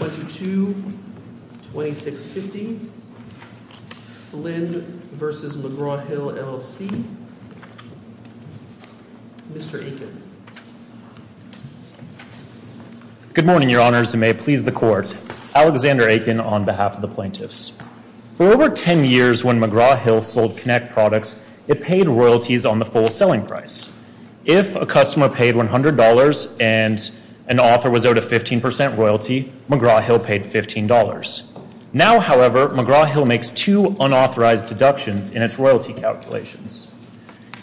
22 2650 Flynn versus McGraw Hill LLC, Mr. Aiken. Good morning, your honors, and may it please the court. Alexander Aiken on behalf of the plaintiffs. For over 10 years when McGraw Hill sold Kinect products, it paid royalties on the full selling If a customer paid $100 and an author was owed a 15% royalty, McGraw Hill paid $15. Now, however, McGraw Hill makes two unauthorized deductions in its royalty calculations.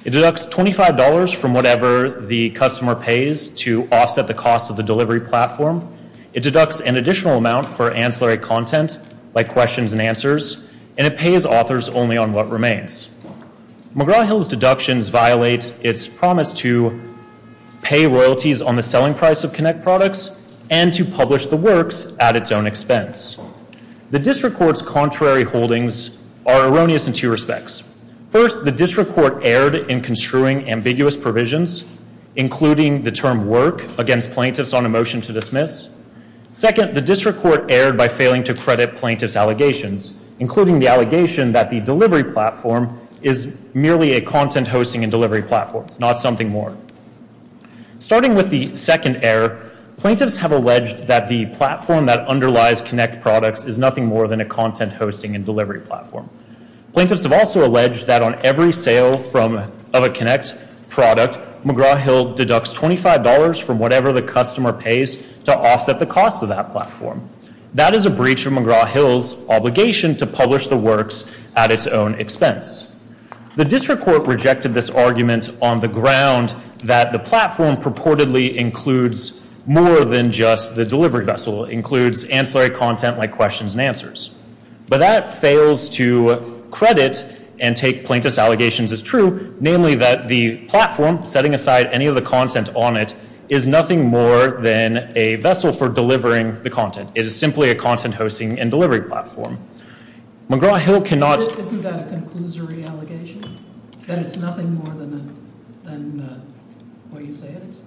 It deducts $25 from whatever the customer pays to offset the cost of the delivery platform. It deducts an additional amount for ancillary content like questions and answers, and it pays authors only on what remains. McGraw Hill's deductions violate its promise to pay royalties on the selling price of Kinect products and to publish the works at its own expense. The district court's contrary holdings are erroneous in two respects. First, the district court erred in construing ambiguous provisions, including the term work against plaintiffs on a motion to dismiss. Second, the district court erred by failing to credit plaintiffs' allegations, including the allegation that the delivery platform is merely a content hosting and delivery platform, not something more. Starting with the second error, plaintiffs have alleged that the platform that underlies Kinect products is nothing more than a content hosting and delivery platform. Plaintiffs have also alleged that on every sale of a Kinect product, McGraw Hill deducts $25 from whatever the customer pays to offset the cost of that platform. That is a breach of McGraw Hill's obligation to publish the works at its own expense. The district court rejected this argument on the ground that the platform purportedly includes more than just the delivery vessel. It includes ancillary content like questions and answers. But that fails to credit and take plaintiffs' allegations as true, namely that the platform, setting aside any of the content on it, is nothing more than a vessel for delivering the content. It is simply a content hosting and delivery platform. McGraw Hill cannot... Isn't that a conclusory allegation? That it's nothing more than what you say it is?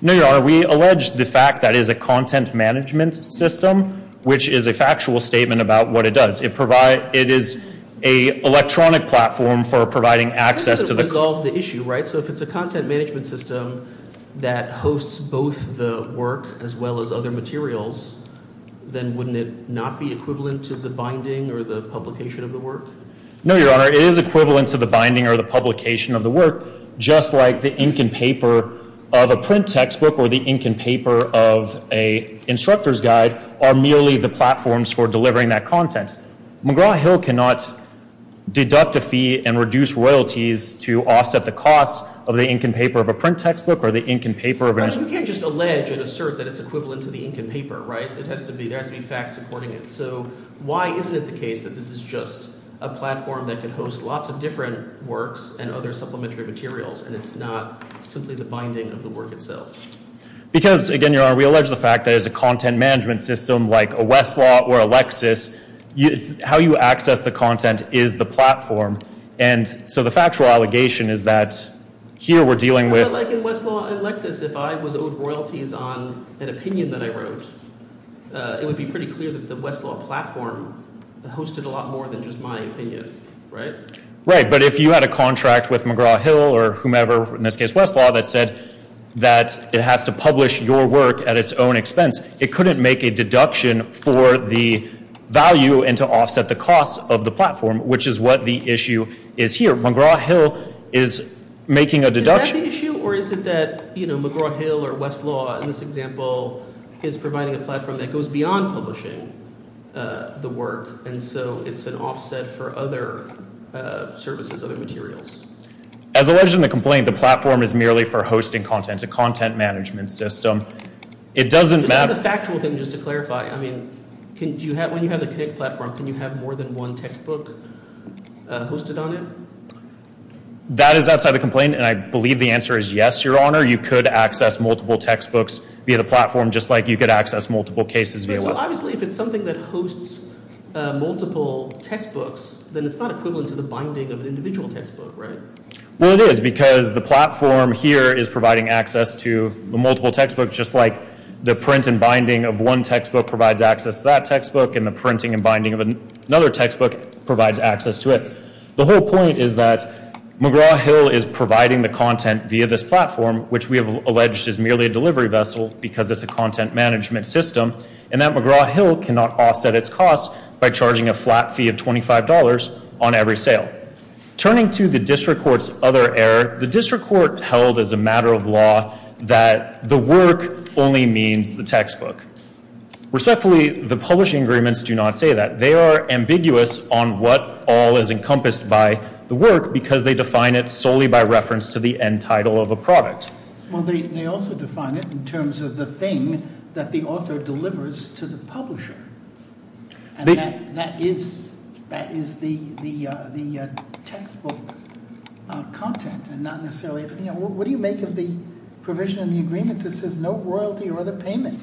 No, Your Honor. We allege the fact that it is a content management system, which is a factual statement about what it does. It is an electronic platform for providing access to the... I think that would resolve the issue, right? So if it's a content management system that hosts both the work as well as other materials, then wouldn't it not be equivalent to the binding or the publication of the work? No, Your Honor. It is equivalent to the binding or the publication of the work, just like the ink and paper of a print textbook or the ink and paper of an instructor's guide are merely the platforms for delivering that content. McGraw Hill cannot deduct a fee and But you can't just allege and assert that it's equivalent to the ink and paper, right? It has to be... There has to be facts supporting it. So why isn't it the case that this is just a platform that can host lots of different works and other supplementary materials, and it's not simply the binding of the work itself? Because, again, Your Honor, we allege the fact that as a content management system, like a Westlaw or a Lexis, how you access the content is the platform. And so the factual allegation is that here we're dealing with... Like in Westlaw and Lexis, if I was owed royalties on an opinion that I wrote, it would be pretty clear that the Westlaw platform hosted a lot more than just my opinion, right? Right. But if you had a contract with McGraw Hill or whomever, in this case Westlaw, that said that it has to publish your work at its own expense, it couldn't make a deduction for the value and to offset the cost of the platform, which is what the issue is here. McGraw Hill is making a deduction... Is that the issue, or is it that, you know, McGraw Hill or Westlaw, in this example, is providing a platform that goes beyond publishing the work, and so it's an offset for other services, other materials? As alleged in the complaint, the platform is merely for hosting content. It's a content management system. It doesn't... But that's a factual thing, just to clarify. I mean, when you have the Connect platform, can you have more than one textbook hosted on it? That is outside the complaint, and I believe the answer is yes, Your Honor. You could access multiple textbooks via the platform, just like you could access multiple cases via Westlaw. So, obviously, if it's something that hosts multiple textbooks, then it's not equivalent to the binding of an individual textbook, right? Well, it is, because the platform here is providing access to the multiple textbooks, just like the print and binding of one textbook provides access to that textbook, and the printing and binding of another textbook provides access to it. The whole point is that McGraw Hill is providing the content via this platform, which we have alleged is merely a delivery vessel, because it's a content management system, and that McGraw Hill cannot offset its costs by charging a flat fee of $25 on every sale. Turning to the district court's other error, the district court held as a matter of law that the work only means the textbook. Respectfully, the publishing agreements do not say that. They are ambiguous on what all is encompassed by the work, because they define it solely by reference to the end title of a product. Well, they also define it in terms of the thing that the author delivers to the publisher, and that is the textbook content, and not necessarily everything else. What do you make of the provision in the agreement that says no royalty or other payment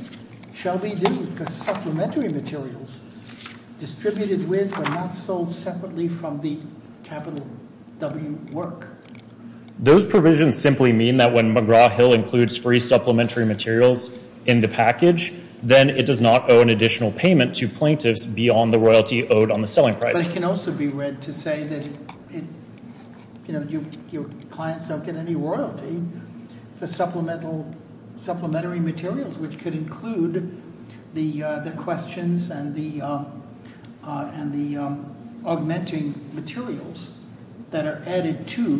shall be due for supplementary materials distributed with or not sold separately from the capital W work? Those provisions simply mean that when McGraw Hill includes free supplementary materials in the package, then it does not owe an additional payment to plaintiffs beyond the royalty owed on the selling price. But it can also be read to say that your clients don't get any royalty for supplementary materials, which could include the questions and the augmenting materials that are added to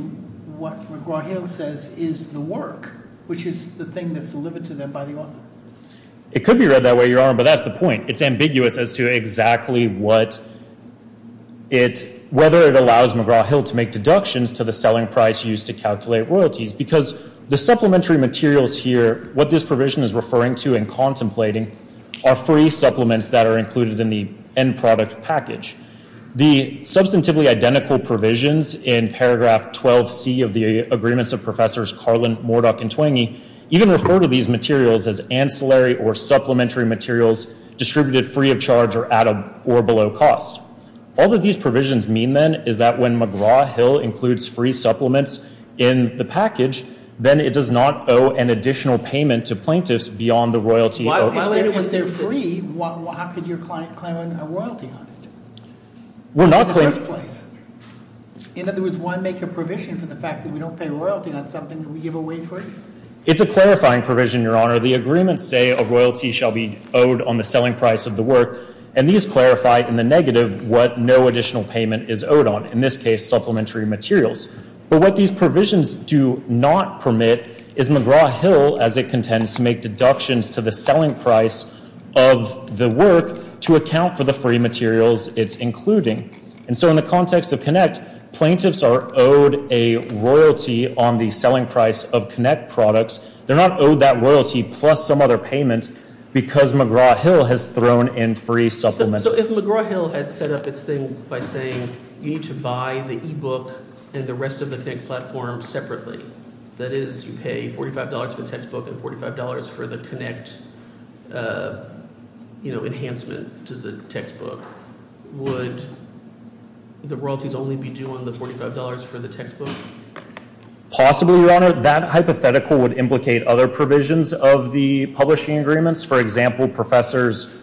what McGraw Hill says is the work, which is the thing that's delivered to them by the author. It could be read that way, but that's the point. It's ambiguous as to exactly whether it allows McGraw Hill to make deductions to the selling price used to calculate royalties, because the supplementary materials here, what this provision is referring to and contemplating, are free supplements that are included in the end product package. The substantively identical provisions in paragraph 12c of the agreements of Professors Carlin, Morduck, and Twenge even refer to these materials as supplementary materials distributed free of charge or below cost. All that these provisions mean then is that when McGraw Hill includes free supplements in the package, then it does not owe an additional payment to plaintiffs beyond the royalty owed. If they're free, how could your client claim a royalty on it in the first place? In other words, why make a provision for the fact that we don't pay royalty on something that we give away free? It's a clarifying provision, Your Honor. The agreements say a royalty shall be owed on the selling price of the work, and these clarify in the negative what no additional payment is owed on, in this case, supplementary materials. But what these provisions do not permit is McGraw Hill, as it contends, to make deductions to the selling price of the work to account for the free materials it's including. And so in the context of Connect, plaintiffs are owed a royalty on the selling price of Connect products. They're not owed that royalty, plus some other payment, because McGraw Hill has thrown in free supplements. So if McGraw Hill had set up its thing by saying you need to buy the e-book and the rest of the Connect platform separately, that is, you pay $45 for the textbook and $45 for the Connect, you know, enhancement to the textbook, would the royalties only be due on the $45 for the textbook? Possibly, Your Honor. That hypothetical would implicate other provisions of the publishing agreements. For example, professors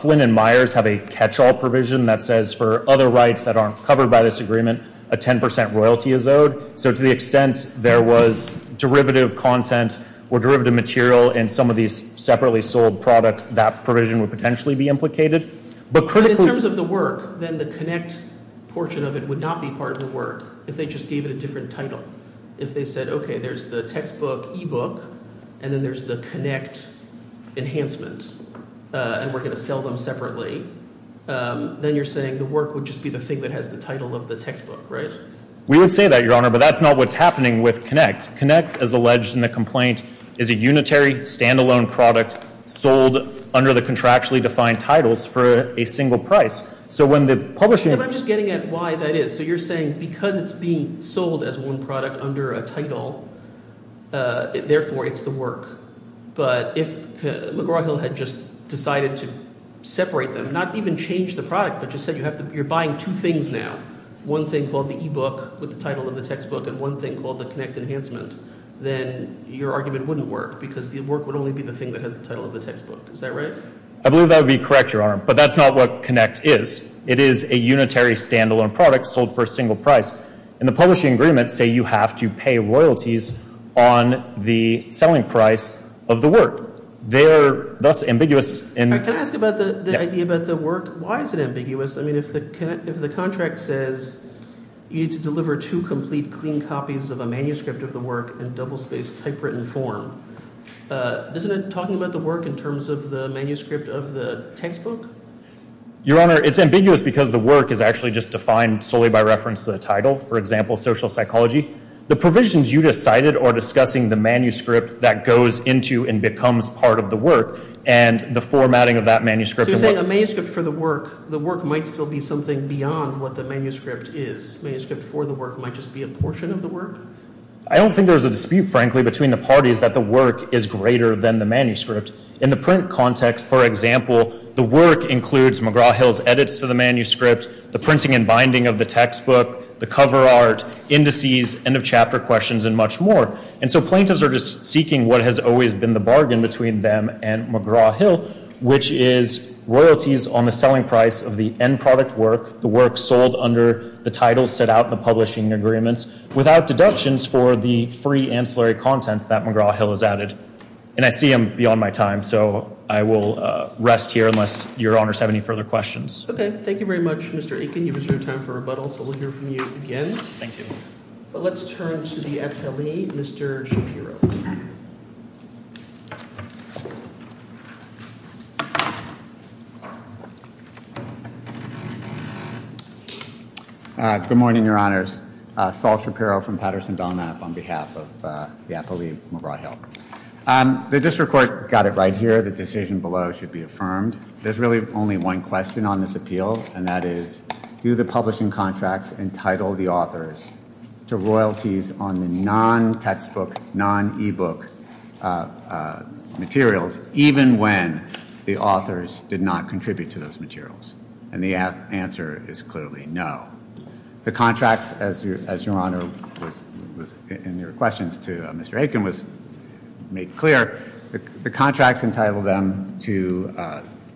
Flynn and Myers have a catch-all provision that says for other rights that aren't covered by this agreement, a 10% royalty is owed. So to the extent there was derivative content or derivative material in some of these separately sold products, that provision would potentially be implicated. But in terms of the work, then the Connect portion of it would not be part of the work if they just gave it a different title. If they said, okay, there's the textbook e-book, and then there's the Connect enhancement, and we're going to sell them separately, then you're saying the work would just be the thing that has the title of the textbook, right? We would say that, Your Honor, but that's not what's happening with Connect. Connect, as alleged in the complaint, is a unitary standalone product sold under the contractually defined titles for a single price. So when the publishing— But I'm just getting at why that is. So you're saying because it's being sold as one product under a title, therefore it's the work. But if McGraw-Hill had just decided to separate them, not even change the product, but just said you have to—you're buying two things now, one thing called the e-book with the title of the textbook and one thing called the Connect enhancement, then your argument wouldn't work because the work would only be the thing that has the title of the textbook. Is that right? I believe that would be correct, Your Honor, but that's not what Connect is. It is a unitary standalone product sold for a single price, and the publishing agreements say you have to pay royalties on the selling price of the work. They are thus ambiguous in— Can I ask about the idea about the work? Why is it ambiguous? I mean, if the contract says you need to deliver two complete clean copies of a manuscript of the work in double-spaced typewritten form, isn't it talking about the work in terms of the manuscript of the textbook? Your Honor, it's ambiguous because the work is actually just defined solely by reference to the title, for example, social psychology. The provisions you just cited are discussing the manuscript that goes into and becomes part of the work, and the formatting of that manuscript— So you're saying a manuscript for the work, the work might still be something beyond what the manuscript is. A manuscript for the work might just be a portion of the work? I don't think there's a dispute, frankly, between the parties that the work is greater than the manuscript. In the print context, for example, the work includes McGraw-Hill's edits to the manuscript, the printing and binding of the textbook, the cover art, indices, end-of-chapter questions, and much more. And so plaintiffs are just seeking what has always been the bargain between them and McGraw-Hill, which is royalties on the selling price of the end-product work, the work sold under the title, set out in the publishing agreements, without deductions for the free ancillary content that McGraw-Hill has added. And I see I'm beyond my time, so I will rest here unless Your Honors have any further questions. Okay, thank you very much, Mr. Aiken. You've reserved time for rebuttal, so we'll hear from you again. Thank you. But let's turn to the appellee, Mr. Shapiro. Good morning, Your Honors. Saul Shapiro from Patterson Belknap on behalf of the appellee McGraw-Hill. The district court got it right here. The decision below should be affirmed. There's really only one question on this appeal, and that is, do the publishing contracts entitle the authors to royalties on the non-textbook, non-ebook materials, even when the authors did not contribute to those materials? And the answer is clearly no. The contracts, as Your Honor was in your questions to Mr. Aiken, was made clear, the contracts entitle them to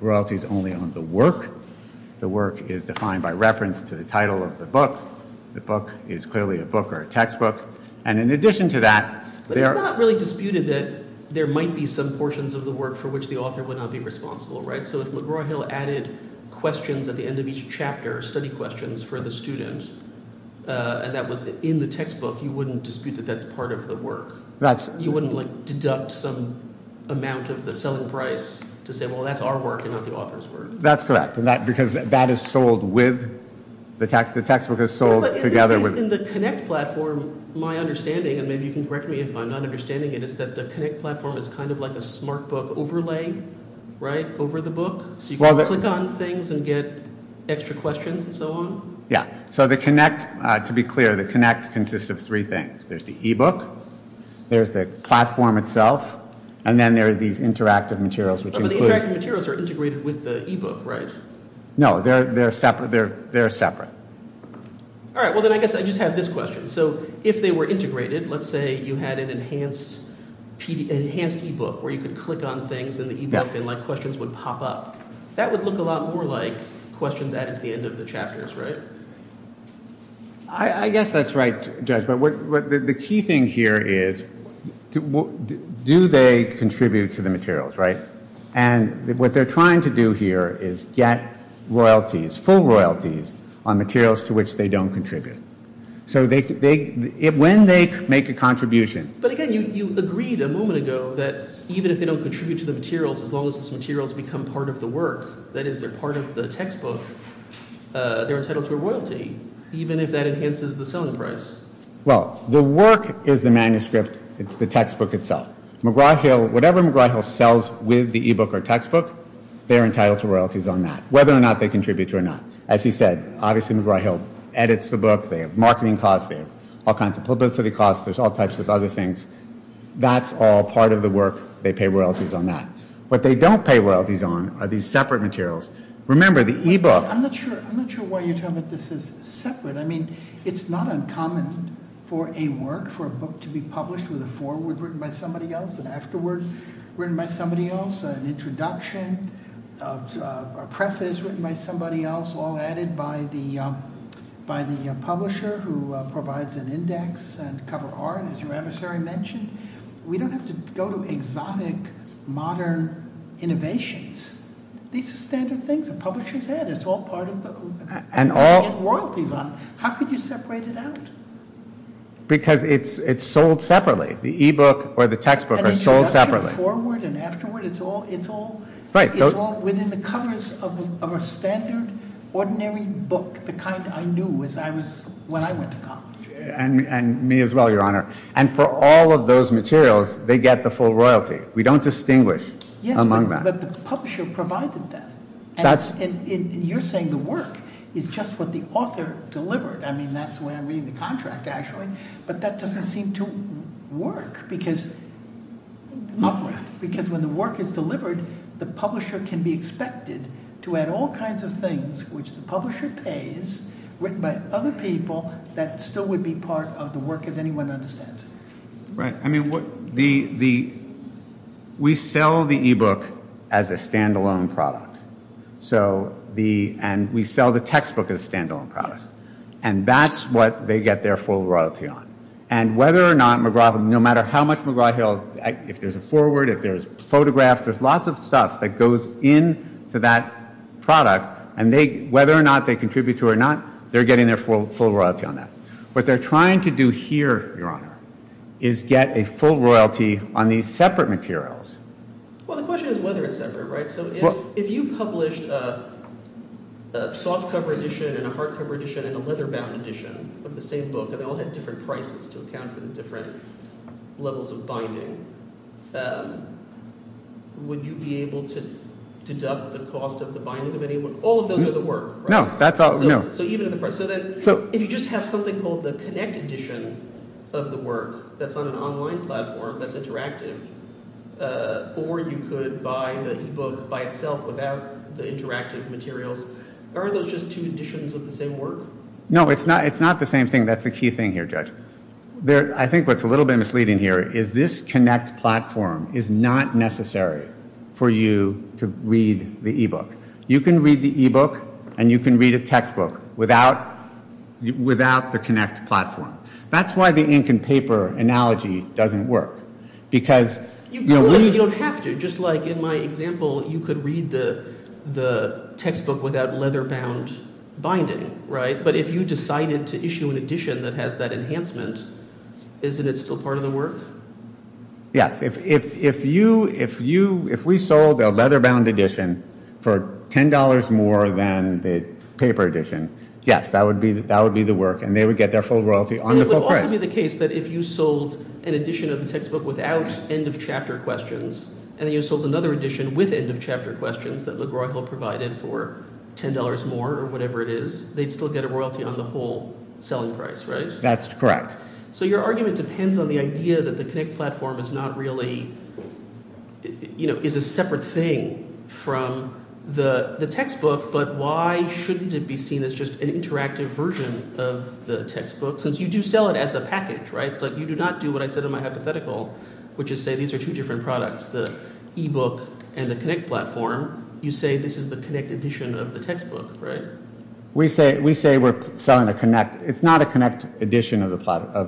royalties only on the work. The work is defined by reference to the title of the book. The book is clearly a book or a textbook. And in addition to that... But it's not really disputed that there might be some portions of the work for which the author would not be responsible, right? So if McGraw-Hill added questions at the end of each chapter, study questions for the student, and that was in the textbook, you wouldn't dispute that that's part of the work? You wouldn't, like, deduct some of the selling price to say, well, that's our work and not the author's work? That's correct, because that is sold with the text. The textbook is sold together with... In the Connect platform, my understanding, and maybe you can correct me if I'm not understanding it, is that the Connect platform is kind of like a smart book overlay, right, over the book? So you can click on things and get extra questions and so on? Yeah. So the Connect, to be clear, the Connect consists of things. There's the e-book, there's the platform itself, and then there are these interactive materials, which include... But the interactive materials are integrated with the e-book, right? No, they're separate. All right, well, then I guess I just have this question. So if they were integrated, let's say you had an enhanced e-book where you could click on things in the e-book and, like, questions would pop up. That would look a lot more like questions added to the end of the chapters, right? I guess that's right, Judge, but the key thing here is, do they contribute to the materials, right? And what they're trying to do here is get royalties, full royalties, on materials to which they don't contribute. So when they make a contribution... But again, you agreed a moment ago that even if they don't contribute to the materials, as long as these materials become part of the work, that is, they're part of the textbook, they're entitled to a royalty, even if that enhances the selling price. Well, the work is the manuscript. It's the textbook itself. McGraw-Hill, whatever McGraw-Hill sells with the e-book or textbook, they're entitled to royalties on that, whether or not they contribute to it or not. As you said, obviously, McGraw-Hill edits the book. They have marketing costs. They have all kinds of publicity costs. There's all types of other That's all part of the work. They pay royalties on that. What they don't pay royalties on are these separate materials. Remember, the e-book... I'm not sure why you're telling me this is separate. I mean, it's not uncommon for a work, for a book to be published with a forward written by somebody else, an afterword written by somebody else, an introduction, a preface written by somebody else, all added by the publisher who provides an index and cover art, as your adversary mentioned. We don't have to go to exotic, modern innovations. These are standard things a publisher's had. It's all royalties on it. How could you separate it out? Because it's sold separately. The e-book or the textbook are sold separately. Forward and afterward, it's all within the covers of a standard, ordinary book, the kind I knew when I went to college. And me as well, your honor. And for all of those materials, they get the full royalty. We don't distinguish among that. Yes, but the publisher provided that. And you're saying the work is just what the author delivered. I mean, that's the way I'm reading the contract, actually. But that doesn't seem to work, because because when the work is delivered, the publisher can be expected to add all kinds of things which the publisher pays, written by other people, that still would be part of the work as anyone understands it. Right. I mean, we sell the e-book as a standalone product. And we sell the textbook as a standalone product. And that's what they get their full royalty on. And whether or not McGraw, no matter how much McGraw-Hill, if there's a forward, if there's photographs, there's lots of stuff that goes into that product. And whether or not they contribute to it or not, they're getting their full royalty on that. What they're trying to do here, your honor, is get a full royalty on these separate materials. Well, the question is whether it's separate, right? So if you published a softcover edition and a hardcover edition and a leather bound edition of the same book, and they all had different prices to account for the different levels of would you be able to deduct the cost of the binding of anyone? All of those are the work. No, that's all. No. So even in the press. So then if you just have something called the Connect edition of the work that's on an online platform that's interactive, or you could buy the e-book by itself without the interactive materials, are those just two editions of the same work? No, it's not. It's not the same thing. That's the key thing here, Judge. I think what's a little bit misleading here is this Connect platform is not necessary for you to read the e-book. You can read the e-book, and you can read a textbook without the Connect platform. That's why the ink and paper analogy doesn't work. Because you don't have to. Just like in my example, you could read the textbook without leather bound binding, right? If you decided to issue an edition that has that enhancement, isn't it still part of the work? Yes. If we sold a leather bound edition for $10 more than the paper edition, yes, that would be the work, and they would get their full royalty on the full price. It would also be the case that if you sold an edition of the textbook without end of chapter questions, and then you sold another edition with end of chapter questions that LeGroy Hill provided for $10 more or whatever it is, they'd still get a royalty on the whole selling price, right? That's correct. So your argument depends on the idea that the Connect platform is not really, you know, is a separate thing from the textbook, but why shouldn't it be seen as just an interactive version of the textbook, since you do sell it as a package, right? It's like you do not do what I said in my hypothetical, which is say these are two different products, the e-book and the Connect platform. You say this is the Connect edition of the textbook, right? We say we're selling a Connect. It's not a Connect edition of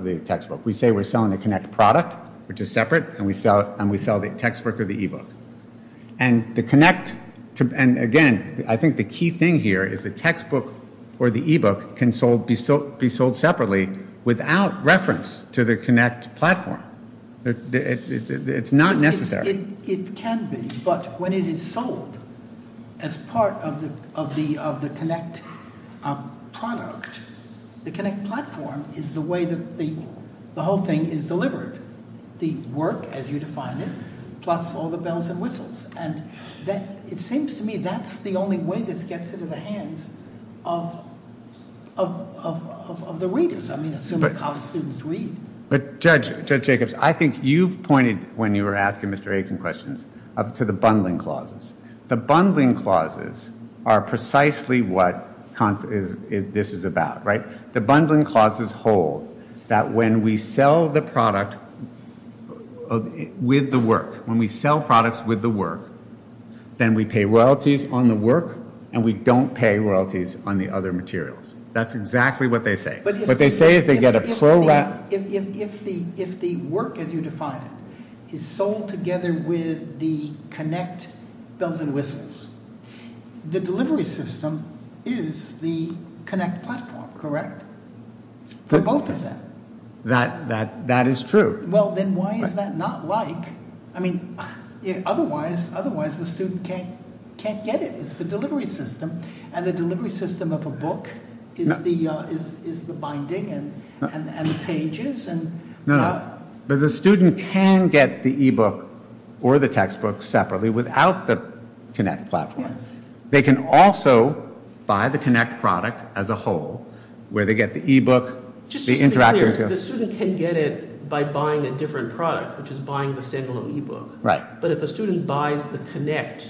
the textbook. We say we're selling a Connect product, which is separate, and we sell the textbook or the e-book. And the Connect, and again, I think the key thing here is the textbook or the e-book can be sold separately without reference to the Connect platform. It's not necessary. It can be, but when it is sold as part of the Connect product, the Connect platform is the way that the whole thing is delivered, the work as you define it, plus all the bells and whistles. And it seems to me that's the only way this gets into the hands of the readers. I mean, assuming college students read. But Judge Jacobs, I think you've pointed when you were asking Mr. Aiken questions to the bundling clauses. The bundling clauses are precisely what this is about, right? The bundling clauses hold that when we sell the product with the work, when we sell products with the work, then we pay royalties on the work, and we don't pay royalties on the other materials. That's exactly what they say. What they say is they get a pro-rat. If the work as you define it is sold together with the Connect bells and whistles, the delivery system is the Connect platform, correct? For both of them. That is true. Well, then why is that not like, I mean, otherwise the student can't get it. It's the delivery system, and the delivery system of a book is the binding and the pages. No, but the student can get the e-book or the textbook separately without the Connect platform. They can also buy the Connect product as a whole, where they get the e-book. Just to be clear, the student can get it by buying a different product, which is buying the standalone e-book. Right. But if a student buys the Connect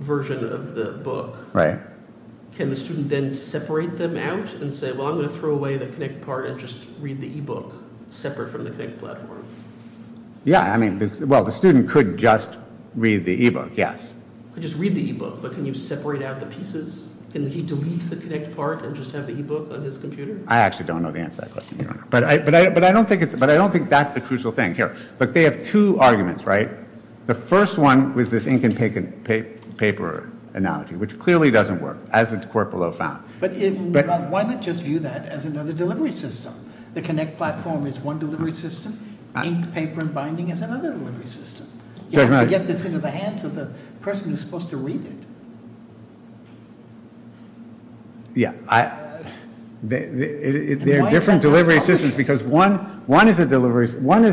version of the book, right, can the student then separate them out and say, well, I'm going to throw away the Connect part and just read the e-book separate from the Connect platform? Yeah, I mean, well, the student could just read the e-book, yes. Could just read the e-book, but can you separate out the pieces? Can he delete the Connect part and just have the e-book on his own? But I don't think that's the crucial thing here. But they have two arguments, right? The first one was this ink and paper analogy, which clearly doesn't work, as the court below found. But why not just view that as another delivery system? The Connect platform is one delivery system. Ink, paper, and binding is another delivery system. You have to get this into the hands of the person who's supposed to read it. Yeah, there are different delivery systems because one is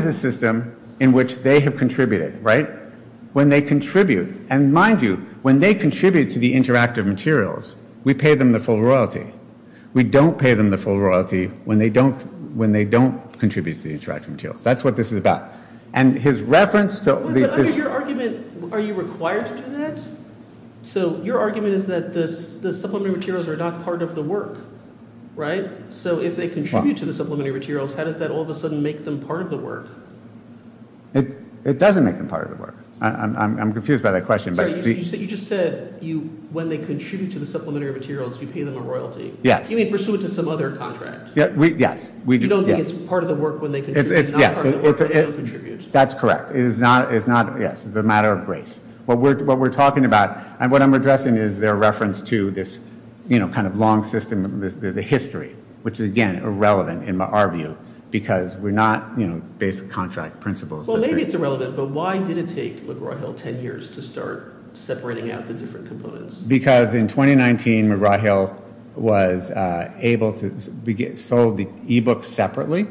a system in which they have contributed, right? When they contribute, and mind you, when they contribute to the interactive materials, we pay them the full royalty. We don't pay them the full royalty when they don't contribute to the interactive materials. That's what this is about. And his reference to the- But under your argument, are you required to do that? So your argument is that the supplementary materials are not part of the work, right? So if they contribute to the supplementary materials, how does that all of a sudden make them part of the work? It doesn't make them part of the work. I'm confused by that question. You just said when they contribute to the supplementary materials, you pay them a royalty. Yes. You may pursue it to some other contract. Yes, we do. You don't think it's part of the work when they contribute. It's not part of the work when they don't contribute. That's correct. It is not, yes, it's a matter of grace. What we're talking about, and what I'm addressing is their reference to this, you know, kind of long system, the history, which is, again, irrelevant in our view, because we're not, you know, basic contract principles. Well, maybe it's irrelevant, but why did it take McGraw-Hill 10 years to start separating out the different components? Because in 2019, McGraw-Hill was able to sell the e-book separately,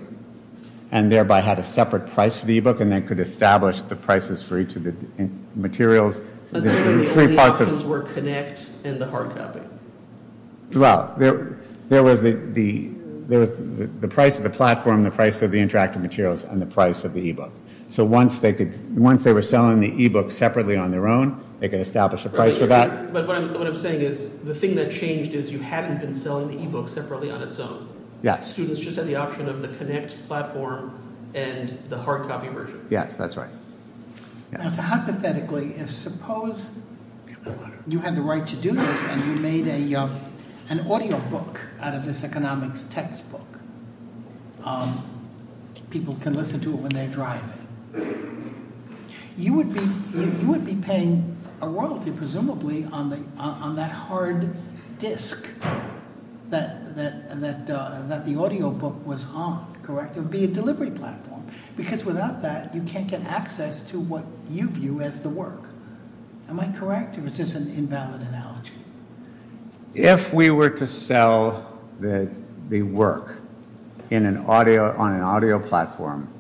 and thereby had a separate price for the e-book, and they could establish the prices for each of the materials. And so the only options were Connect and the hard copy. Well, there was the price of the platform, the price of the interactive materials, and the price of the e-book. So once they were selling the e-book separately on their own, they could establish a price for that. But what I'm saying is, the thing that changed is you hadn't been selling the e-book separately on its own. Yes. Students just had the option of the Connect platform and the hard copy version. Yes, that's right. Hypothetically, if suppose you had the right to do this, and you made an audio book out of this economics textbook, people can listen to it when they're driving, you would be paying a royalty, presumably, on that hard disc that the audio book was on, it would be a delivery platform. Because without that, you can't get access to what you view as the work. Am I correct, or is this an invalid analogy? If we were to sell the work on an audio platform,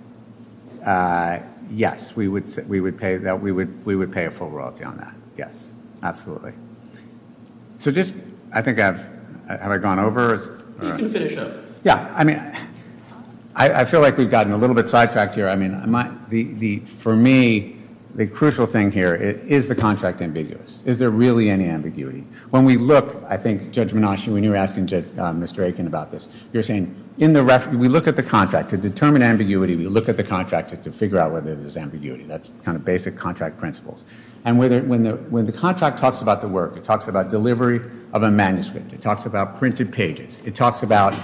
yes, we would pay a full royalty on that. Yes, absolutely. So just, I think I've, have I gone over? You can finish up. Yeah, I mean, I feel like we've gotten a little bit sidetracked here. I mean, for me, the crucial thing here is the contract ambiguous. Is there really any ambiguity? When we look, I think, Judge Mnuchin, when you were asking Mr. Aiken about this, you're saying, in the reference, we look at the contract to determine ambiguity, we look at the contract to figure out whether there's ambiguity. That's kind of basic contract principles. And when the contract talks about the work, it talks about delivery of a manuscript, it talks about printed pages, it talks about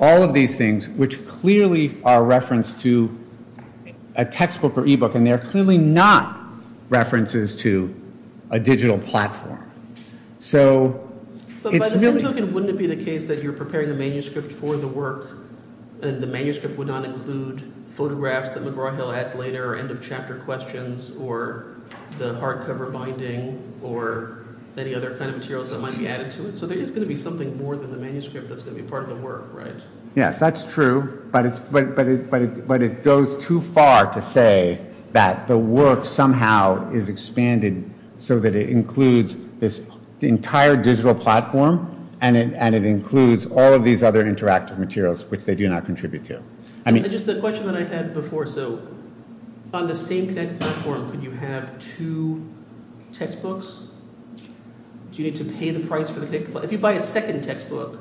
all of these things, which clearly are referenced to a textbook or e-book, and they're clearly not references to a digital platform. But by the same token, wouldn't it be the case that you're preparing a manuscript for the work, and the manuscript would not include photographs that McGraw-Hill adds later, or end questions, or the hardcover binding, or any other kind of materials that might be added to it? So there is going to be something more than the manuscript that's going to be part of the work, right? Yes, that's true. But it goes too far to say that the work somehow is expanded so that it includes this entire digital platform, and it includes all of these other interactive materials, which they do not contribute to. Just the question that I had before, so on the same Connect platform, could you have two textbooks? Do you need to pay the price for the Connect? If you buy a second textbook,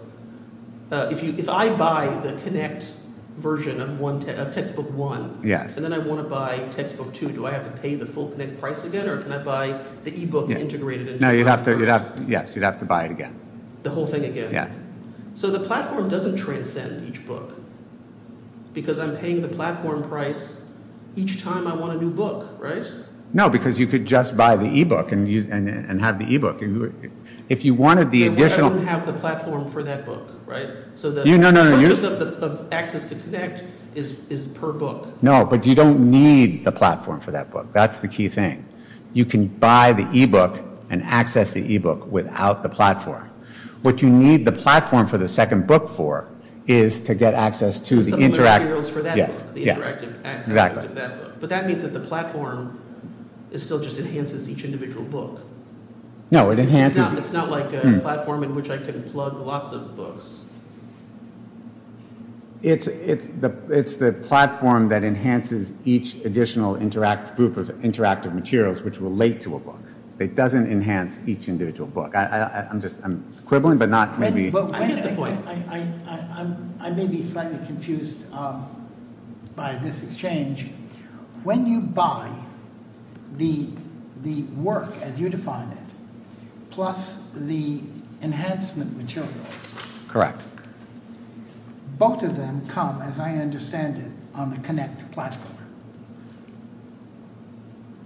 if I buy the Connect version of textbook one, and then I want to buy textbook two, do I have to pay the full Connect price again, or can I buy the e-book integrated? No, you'd have to buy it again. The whole thing again? Yeah. So the platform doesn't transcend each book, because I'm paying the platform price each time I want a new book, right? No, because you could just buy the e-book and have the e-book. If you wanted the additional... I wouldn't have the platform for that book, right? So the purchase of Access to Connect is per book. No, but you don't need the platform for that book. That's the key thing. You can buy the e-book and the second book for is to get access to the interactive... Some materials for that book. Yes, exactly. But that means that the platform is still just enhances each individual book. No, it enhances... It's not like a platform in which I can plug lots of books. It's the platform that enhances each additional group of interactive materials, which relate to a book. It doesn't enhance each individual book. I'm just scribbling, but not I get the point. I may be slightly confused by this exchange. When you buy the work as you define it, plus the enhancement materials, both of them come, as I understand it, on the Connect platform.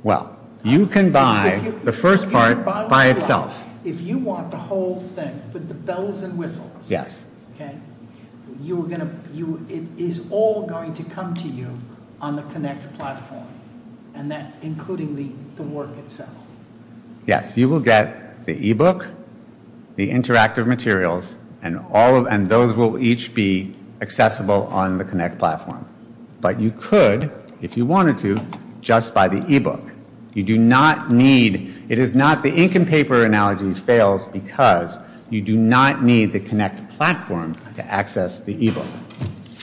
Well, you can buy the first part by itself. If you want the whole thing with the bells and whistles, yes, okay, you're going to... It is all going to come to you on the Connect platform, and that including the work itself. Yes, you will get the e-book, the interactive materials, and all of... And those will each be accessible on the Connect platform. But you could, if you wanted to, just buy the e-book. You do not need... It is not the ink and paper analogy fails because you do not need the Connect platform to access the e-book.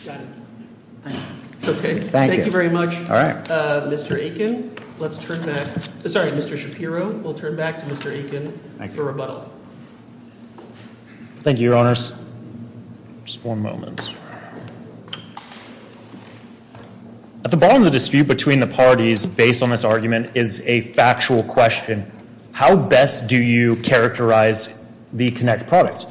Got it. Okay, thank you very much, Mr. Aiken. Let's turn back... Sorry, Mr. Shapiro, we'll turn back to Mr. Aiken for rebuttal. Thank you, your honors. Just four moments. At the bottom of the dispute between the parties, based on this argument, is a factual question. How best do you characterize the Connect product?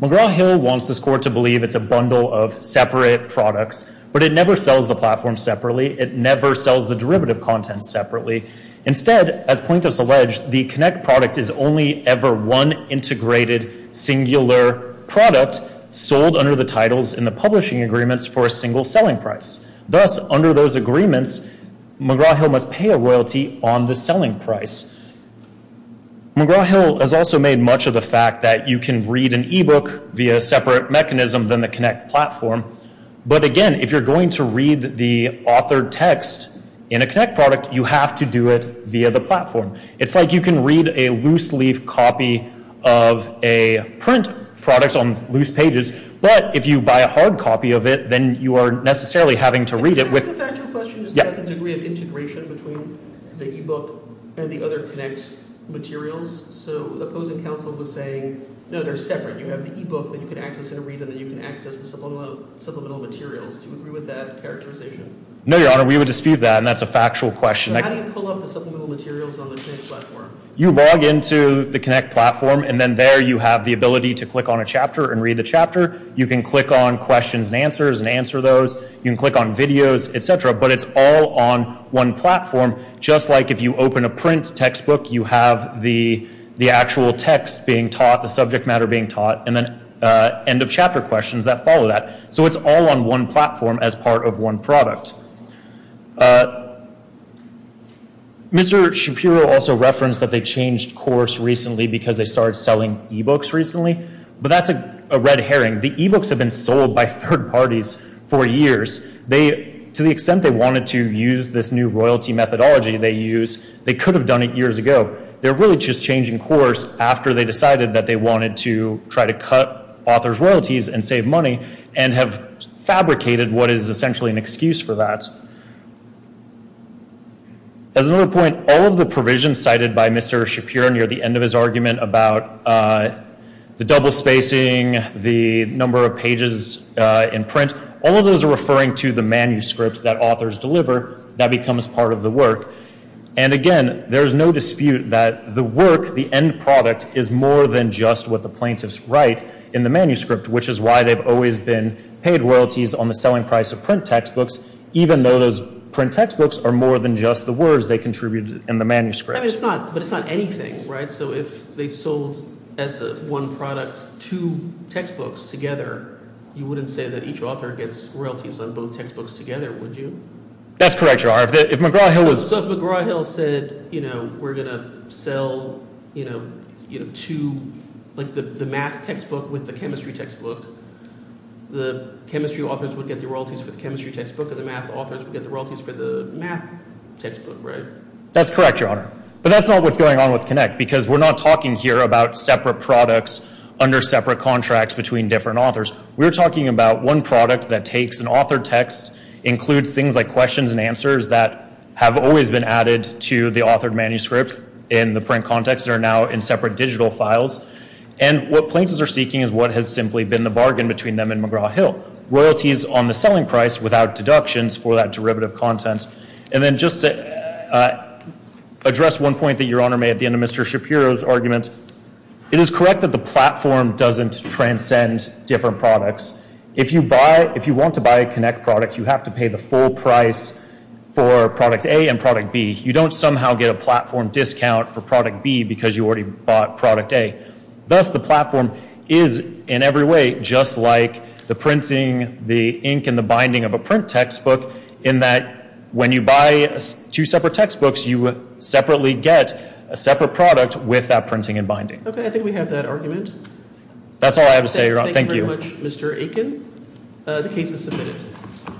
McGraw-Hill wants this court to believe it's a bundle of separate products, but it never sells the platform separately. It never sells the derivative content separately. Instead, as plaintiffs allege, the Connect product is only ever one integrated singular product sold under the titles in the publishing agreements for a single selling price. Thus, under those agreements, McGraw-Hill must pay a royalty on the selling price. McGraw-Hill has also made much of the fact that you can read an e-book via a separate mechanism than the Connect platform. But again, if you're going to read the authored text in a platform, it's like you can read a loose-leaf copy of a print product on loose pages, but if you buy a hard copy of it, then you are necessarily having to read it with... Can I ask a factual question about the degree of integration between the e-book and the other Connect materials? So opposing counsel was saying, no, they're separate. You have the e-book that you can access in a read and then you can access the supplemental materials. Do you agree with that characterization? No, your honor, we would dispute that, and that's a factual question. How do you pull up the supplemental materials on the Connect platform? You log into the Connect platform and then there you have the ability to click on a chapter and read the chapter. You can click on questions and answers and answer those. You can click on videos, etc., but it's all on one platform. Just like if you open a print textbook, you have the actual text being taught, the subject matter being taught, and then end of chapter questions that follow that. So it's all on one platform as part of one product. Mr. Shapiro also referenced that they changed course recently because they started selling e-books recently, but that's a red herring. The e-books have been sold by third parties for years. To the extent they wanted to use this new royalty methodology they use, they could have done it years ago. They're really just changing course after they decided that they wanted to try to cut author's royalties and save money, and have fabricated what is essentially an excuse for that. As another point, all of the provisions cited by Mr. Shapiro near the end of his argument about the double spacing, the number of pages in print, all of those are referring to the manuscript that authors deliver that becomes part of the work. And again, there's no dispute that the work, the end product, is more than just what the plaintiffs write in the manuscript, which is why they've always been paid royalties on the selling price of print textbooks, even though those print textbooks are more than just the words they contributed in the manuscript. I mean it's not, but it's not anything, right? So if they sold as one product two textbooks together, you wouldn't say that each author gets royalties on both textbooks together, would you? That's correct, your honor. If McGraw-Hill was... you know, two, like the math textbook with the chemistry textbook, the chemistry authors would get the royalties for the chemistry textbook, and the math authors would get the royalties for the math textbook, right? That's correct, your honor. But that's not what's going on with Connect, because we're not talking here about separate products under separate contracts between different authors. We're talking about one product that takes an authored text, includes things like questions and answers that have always been in separate digital files, and what plaintiffs are seeking is what has simply been the bargain between them and McGraw-Hill, royalties on the selling price without deductions for that derivative content. And then just to address one point that your honor made at the end of Mr. Shapiro's argument, it is correct that the platform doesn't transcend different products. If you buy, if you want to buy a Connect product, you have to pay the full price for product A and product B. You don't somehow get a platform discount for product B, because you already bought product A. Thus, the platform is in every way just like the printing, the ink, and the binding of a print textbook, in that when you buy two separate textbooks, you separately get a separate product with that printing and binding. Okay, I think we have that argument. That's all I have to say, your honor. Thank you. Thank you very much, Mr. Aiken. The case is submitted.